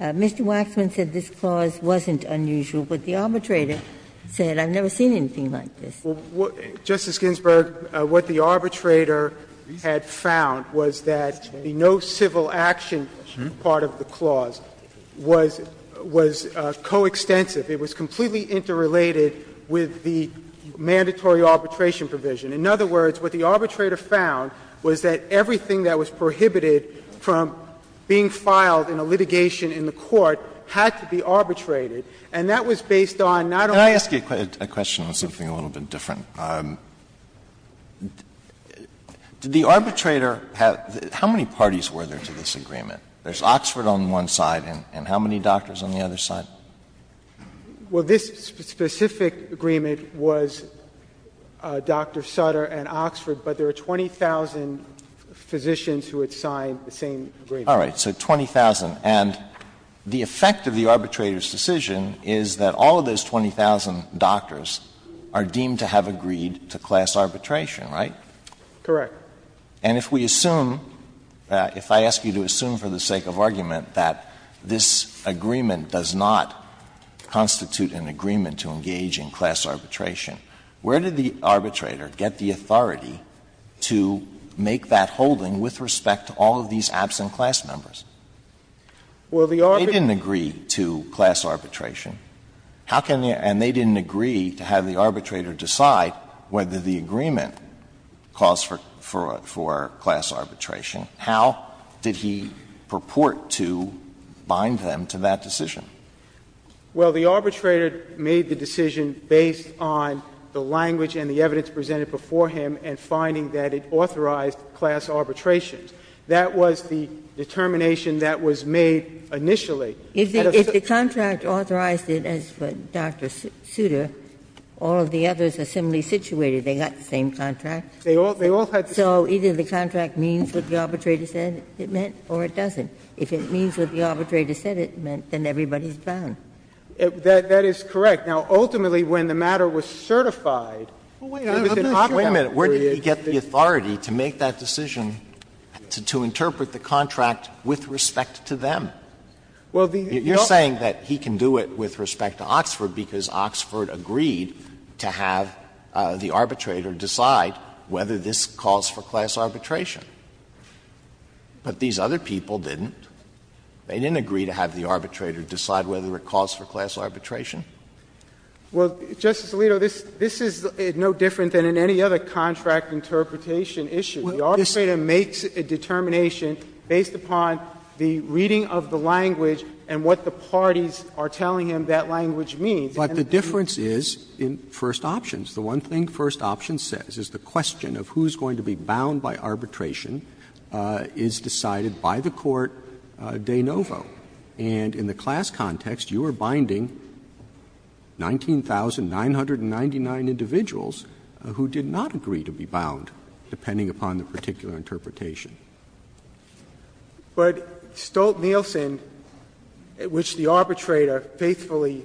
Mr. Waxman said this clause wasn't unusual, but the arbitrator said I've never seen anything like this. Waxman Justice Ginsburg, what the arbitrator had found was that the no civil action part of the clause was ‑‑ was coextensive. It was completely interrelated with the mandatory arbitration provision. In other words, what the arbitrator found was that everything that was prohibited from being filed in a litigation in the court had to be arbitrated. And that was based on not only ‑‑ Alito Can I ask you a question on something a little bit different? Did the arbitrator have ‑‑ how many parties were there to this agreement? There's Oxford on one side, and how many doctors on the other side? Waxman Well, this specific agreement was Dr. Sutter and Oxford, but there were 20,000 physicians who had signed the same agreement. Alito All right. So 20,000. And the effect of the arbitrator's decision is that all of those 20,000 doctors are deemed to have agreed to class arbitration, right? Waxman Correct. Alito And if we assume, if I ask you to assume for the sake of argument that this agreement does not constitute an agreement to engage in class arbitration, where did the arbitrator get the authority to make that holding with respect to all of these absent class members? Waxman Well, the arbitrator ‑‑ Alito They didn't agree to class arbitration. How can they ‑‑ and they didn't agree to have the arbitrator decide whether the agreement calls for ‑‑ for class arbitration. How did he purport to bind them to that decision? Waxman Well, the arbitrator made the decision based on the language and the evidence presented before him and finding that it authorized class arbitration. That was the determination that was made initially. Ginsburg If the contract authorized it, as for Dr. Sutter, all of the others are similarly situated. They got the same contract. Waxman They all had the same contract. Ginsburg If it means what the arbitrator said it meant or it doesn't. If it means what the arbitrator said it meant, then everybody's bound. Waxman That is correct. Now, ultimately, when the matter was certified, it was in Oxford. Alito Wait a minute. Where did he get the authority to make that decision to interpret the contract with respect to them? You're saying that he can do it with respect to Oxford because Oxford agreed to have the arbitrator decide whether this calls for class arbitration. But these other people didn't. They didn't agree to have the arbitrator decide whether it calls for class arbitration. Waxman Well, Justice Alito, this is no different than in any other contract interpretation issue. The arbitrator makes a determination based upon the reading of the language and what the parties are telling him that language means. Roberts But the difference is in first options. The one thing first option says is the question of who is going to be bound by arbitration is decided by the court de novo. And in the class context, you are binding 19,999 individuals who did not agree to be bound, depending upon the particular interpretation. Waxman But Stolt-Nielsen, which the arbitrator faithfully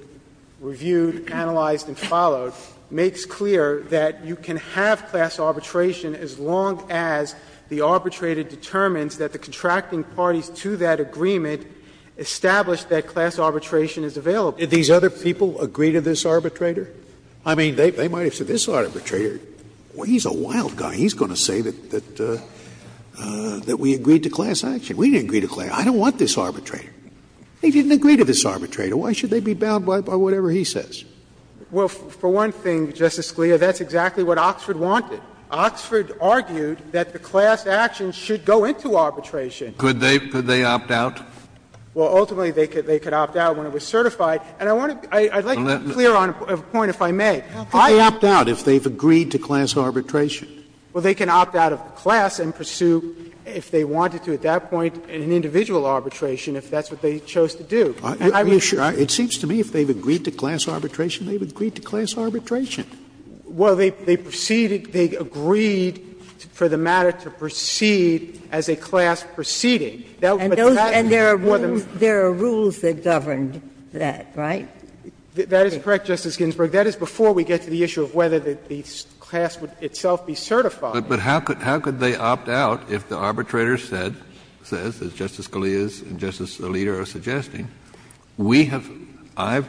reviewed, analyzed and followed, makes clear that you can have class arbitration as long as the arbitrator determines that the contracting parties to that agreement establish that class arbitration is available. Scalia Did these other people agree to this arbitrator? I mean, they might have said this arbitrator, well, he's a wild guy. He's going to say that we agreed to class action. We didn't agree to class. I don't want this arbitrator. They didn't agree to this arbitrator. Why should they be bound by whatever he says? Waxman Well, for one thing, Justice Scalia, that's exactly what Oxford wanted. Oxford argued that the class action should go into arbitration. Scalia Could they opt out? Waxman Well, ultimately, they could opt out when it was certified. And I want to be clear on a point, if I may. Scalia How could they opt out if they've agreed to class arbitration? Waxman Well, they can opt out of the class and pursue, if they wanted to at that point, an individual arbitration if that's what they chose to do. Scalia Are you sure? It seems to me if they've agreed to class arbitration, they've agreed to class arbitration. Waxman Well, they proceeded, they agreed for the matter to proceed as a class proceeding. But that would be more than one of the reasons. Ginsburg And there are rules that governed that, right? Waxman That is correct, Justice Ginsburg. That is before we get to the issue of whether the class would itself be certified. Kennedy But how could they opt out if the arbitrator said, says, as Justice Scalia and Justice Alito are suggesting? We have — I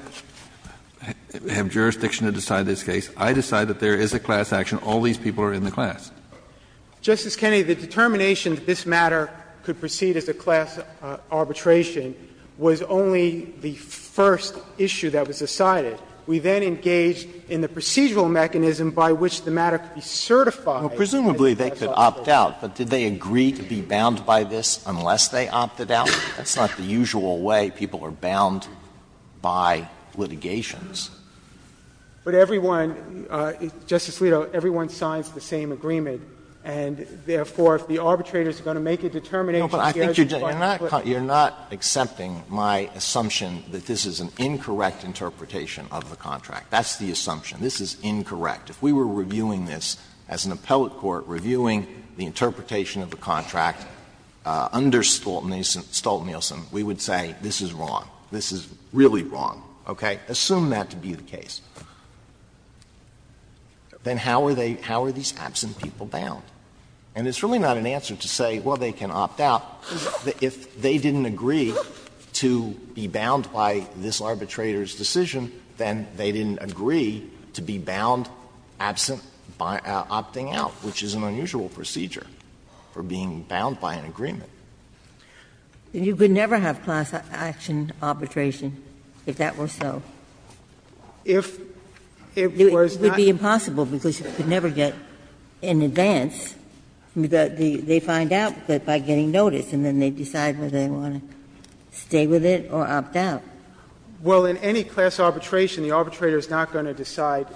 have jurisdiction to decide this case. I decide that there is a class action. All these people are in the class. Waxman Justice Kennedy, the determination that this matter could proceed as a class arbitration was only the first issue that was decided. We then engaged in the procedural mechanism by which the matter could be certified as a class arbitration. Alito Well, presumably they could opt out, but did they agree to be bound by this unless they opted out? That's not the usual way people are bound by litigations. Waxman But everyone — Justice Alito, everyone signs the same agreement, and therefore if the arbitrator is going to make a determination, he has to find a split. Alito You are not accepting my assumption that this is an incorrect interpretation of the contract. That's the assumption. This is incorrect. If we were reviewing this as an appellate court, reviewing the interpretation of the contract under Stolt-Nielsen, we would say this is wrong. This is really wrong, okay? Assume that to be the case. Then how are they — how are these absent people bound? And it's really not an answer to say, well, they can opt out. If they didn't agree to be bound by this arbitrator's decision, then they didn't agree to be bound absent by opting out, which is an unusual procedure. They're being bound by an agreement. Ginsburg You could never have class action arbitration if that were so. It would be impossible because you could never get in advance. They find out by getting notice, and then they decide whether they want to stay with it or opt out. Waxman Well, in any class arbitration, the arbitrator is not going to decide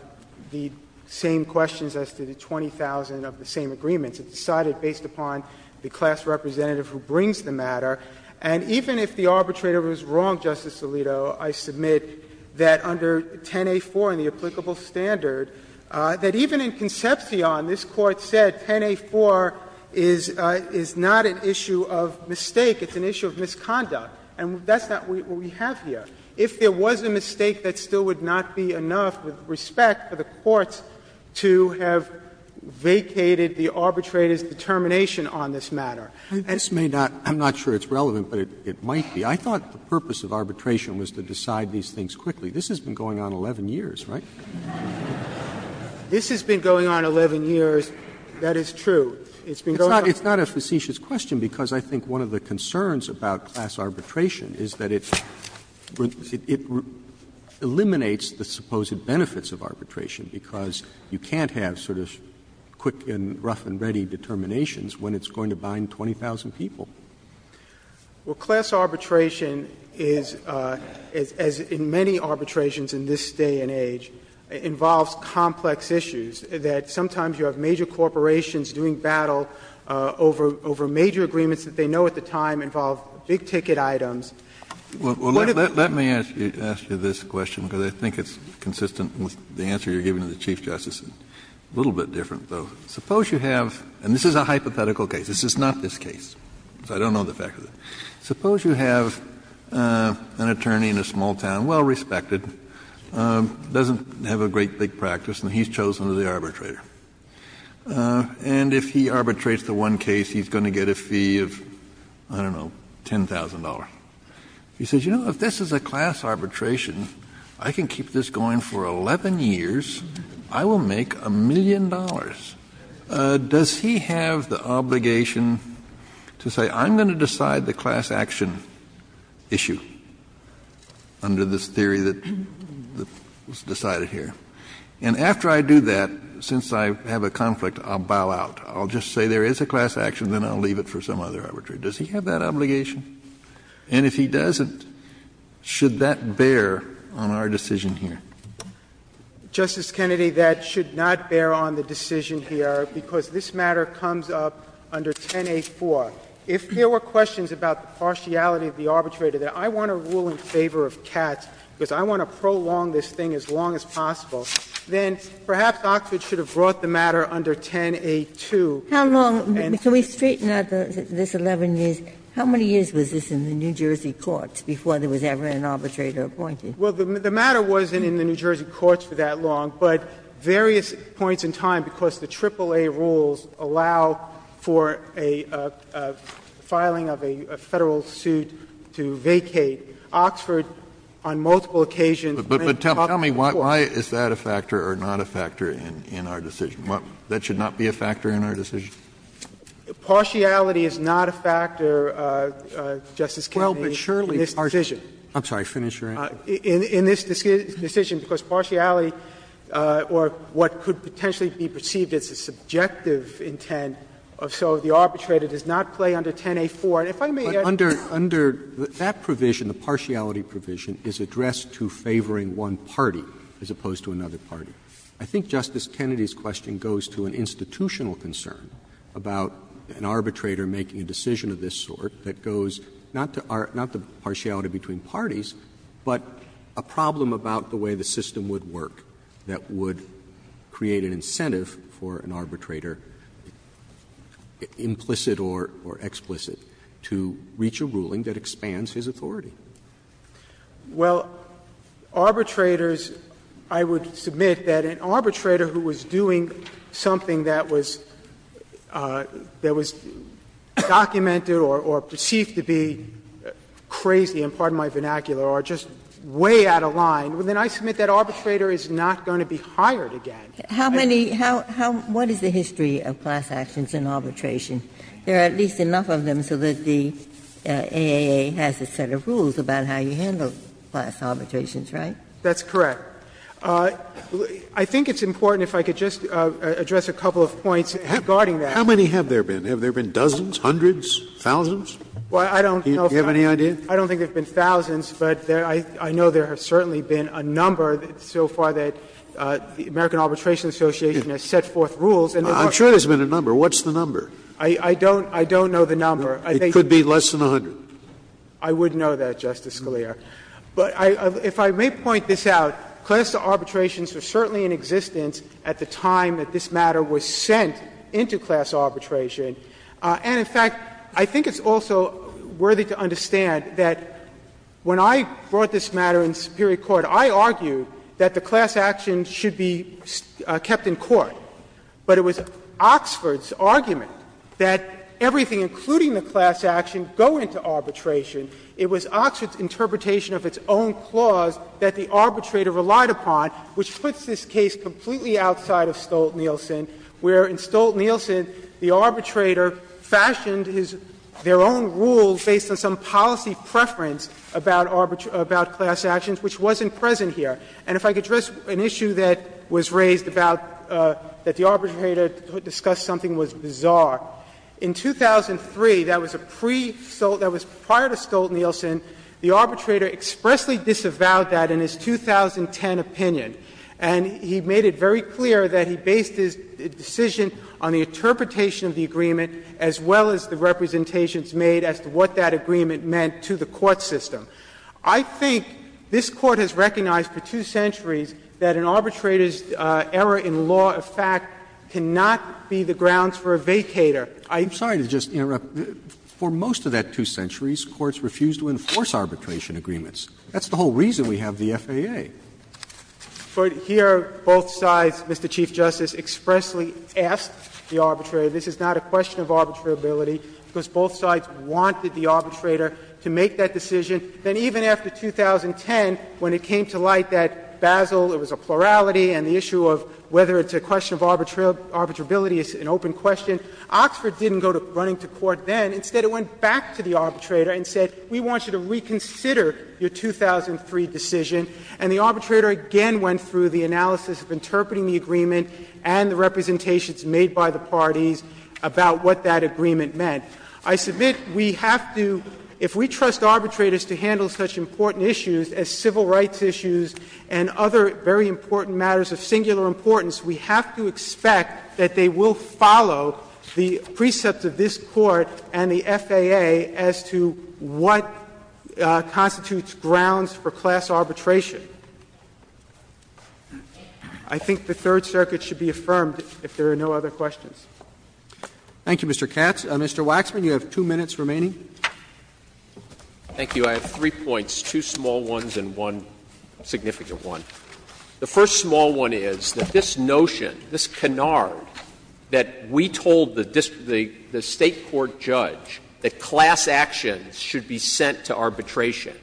the same questions as to the 20,000 of the same agreements. It's decided based upon the class representative who brings the matter. And even if the arbitrator was wrong, Justice Alito, I submit that under 10A4 and the applicable standard, that even in Concepcion, this Court said 10A4 is not an issue of mistake, it's an issue of misconduct. And that's not what we have here. If there was a mistake, that still would not be enough, with respect, for the courts to have vacated the arbitrator's determination on this matter. Roberts I'm not sure it's relevant, but it might be. I thought the purpose of arbitration was to decide these things quickly. This has been going on 11 years, right? Waxman This has been going on 11 years, that is true. It's been going on 11 years. Roberts It's not a facetious question, because I think one of the concerns about class arbitration is that it eliminates the supposed benefits of arbitration, because you can't have sort of quick and rough and ready determinations when it's going to bind 20,000 people. Waxman Well, class arbitration is, as in many arbitrations in this day and age, involves complex issues that sometimes you have major corporations doing battle over major agreements that they know at the time involve big-ticket items. Kennedy Well, let me ask you this question, because I think it's consistent with the answer you're giving to the Chief Justice, a little bit different, though. Suppose you have — and this is a hypothetical case. This is not this case, so I don't know the fact of it. Suppose you have an attorney in a small town, well-respected, doesn't have a great big practice, and he's chosen as the arbitrator. And if he arbitrates the one case, he's going to get a fee of, I don't know, $10,000. He says, you know, if this is a class arbitration, I can keep this going for 11 years, I will make a million dollars. Does he have the obligation to say, I'm going to decide the class action issue under this theory that was decided here? And after I do that, since I have a conflict, I'll bow out. I'll just say there is a class action, then I'll leave it for some other arbitration. Does he have that obligation? And if he doesn't, should that bear on our decision here? Katyal Justice Kennedy, that should not bear on the decision here, because this matter comes up under 10a.4. If there were questions about the partiality of the arbitrator, that I want to rule in favor of Katz, because I want to prolong this thing as long as possible, then perhaps Oxford should have brought the matter under 10a.2. Ginsburg How long? Can we straighten out this 11 years? How many years was this in the New Jersey courts before there was ever an arbitrator appointed? Katyal Well, the matter wasn't in the New Jersey courts for that long, but various points in time, because the AAA rules allow for a filing of a Federal suit to vacate, Oxford on multiple occasions. Kennedy But tell me, why is that a factor or not a factor in our decision? That should not be a factor in our decision? Katyal Partiality is not a factor, Justice Kennedy, in this decision. In this decision, because partiality, or what could potentially be perceived as a subjective intent, so the arbitrator does not play under 10a.4. And if I may add to that. That provision, the partiality provision, is addressed to favoring one party as opposed to another party. I think Justice Kennedy's question goes to an institutional concern about an arbitrator making a decision of this sort that goes not to partiality between parties, but a problem about the way the system would work that would create an incentive for an arbitrator implicit or explicit to reach a ruling that expands his authority. Sotomayor Well, arbitrators, I would submit that an arbitrator who was doing something that was documented or perceived to be crazy, and pardon my vernacular, are just way out of line, then I submit that arbitrator is not going to be hired again. Ginsburg How many, how, what is the history of class actions in arbitration? There are at least enough of them so that the A.A.A. has a set of rules about how you handle class arbitrations, right? That's correct. I think it's important, if I could just address a couple of points regarding that. How many have there been? Have there been dozens, hundreds, thousands? Do you have any idea? I don't think there have been thousands, but I know there have certainly been a number so far that the American Arbitration Association has set forth rules, and there are. Scalia I'm sure there's been a number. What's the number? I don't know the number. Scalia It could be less than 100. I would know that, Justice Scalia. But if I may point this out, class arbitrations were certainly in existence at the time that this matter was sent into class arbitration. And, in fact, I think it's also worthy to understand that when I brought this matter in superior court, I argued that the class action should be kept in court. But it was Oxford's argument that everything, including the class action, go into arbitration. It was Oxford's interpretation of its own clause that the arbitrator relied upon, which puts this case completely outside of Stolt-Nielsen, where in Stolt-Nielsen, the arbitrator fashioned his own rules based on some policy preference about arbitration and about class actions, which wasn't present here. And if I could address an issue that was raised about that the arbitrator discussed something was bizarre. In 2003, that was a pre-Stolt — that was prior to Stolt-Nielsen, the arbitrator expressly disavowed that in his 2010 opinion. And he made it very clear that he based his decision on the interpretation of the agreement as well as the representations made as to what that agreement meant to the court system. I think this Court has recognized for two centuries that an arbitrator's error in law of fact cannot be the grounds for a vacator. I'm sorry to just interrupt. For most of that two centuries, courts refused to enforce arbitration agreements. That's the whole reason we have the FAA. But here both sides, Mr. Chief Justice, expressly asked the arbitrator, this is not a question of arbitrability, because both sides wanted the arbitrator to make that decision, then even after 2010, when it came to light that Basel, it was a plurality and the issue of whether it's a question of arbitrability is an open question, Oxford didn't go to running to court then. Instead, it went back to the arbitrator and said, we want you to reconsider your 2003 decision. And the arbitrator again went through the analysis of interpreting the agreement and the representations made by the parties about what that agreement meant. I submit we have to, if we trust arbitrators to handle such important issues as civil rights issues and other very important matters of singular importance, we have to expect that they will follow the precepts of this Court and the FAA as to what constitutes grounds for class arbitration. I think the Third Circuit should be affirmed if there are no other questions. Roberts. Thank you, Mr. Katz. Mr. Waxman, you have two minutes remaining. Thank you. I have three points, two small ones and one significant one. The first small one is that this notion, this canard, that we told the State court judge that class actions should be sent to arbitration,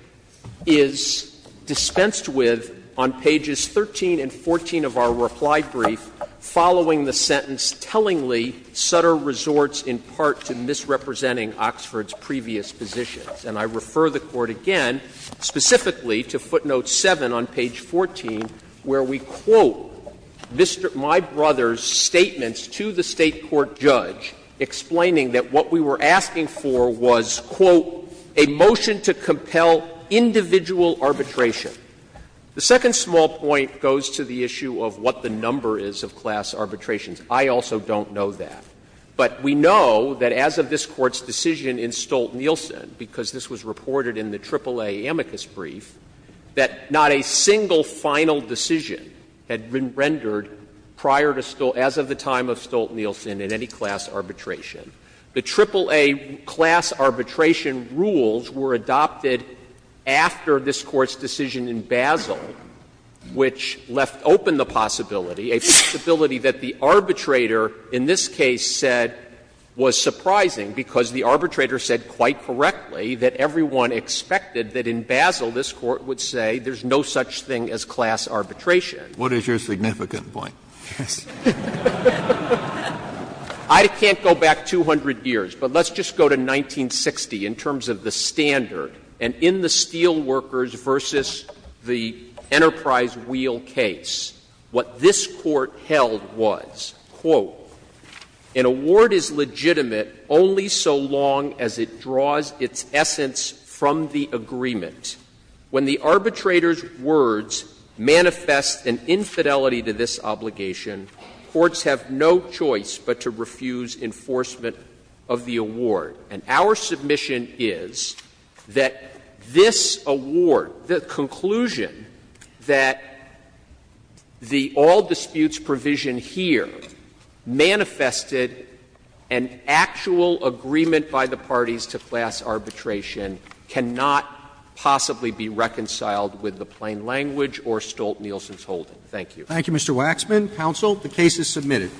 is dispensed with on pages 13 and 14 of our reply brief, following the sentence, Tellingly, Sutter resorts in part to misrepresenting Oxford's previous positions. And I refer the Court again specifically to footnote 7 on page 14, where we quote my brother's statements to the State court judge, explaining that what we were asking for was, quote, a motion to compel individual arbitration. The second small point goes to the issue of what the number is of class arbitrations. I also don't know that. But we know that as of this Court's decision in Stolt-Nielsen, because this was reported in the AAA amicus brief, that not a single final decision had been rendered prior to Stolt — as of the time of Stolt-Nielsen in any class arbitration. The AAA class arbitration rules were adopted after this Court's decision in Basel, which left open the possibility, a possibility that the arbitrator in this case said was surprising, because the arbitrator said quite correctly that everyone expected that in Basel this Court would say there's no such thing as class arbitration. Kennedy, What is your significant point? Yes. I can't go back 200 years, but let's just go to 1960 in terms of the standard. And in the Steelworkers v. the Enterprise Wheel case, what this Court held was, quote, an award is legitimate only so long as it draws its essence from the agreement. When the arbitrator's words manifest an infidelity to this obligation, courts have no choice but to refuse enforcement of the award. And our submission is that this award, the conclusion that the all-disputes provision here manifested an actual agreement by the parties to class arbitration cannot possibly be reconciled with the plain language or Stolt-Nielsen's holding. Thank you. Thank you, Mr. Waxman. Counsel, the case is submitted.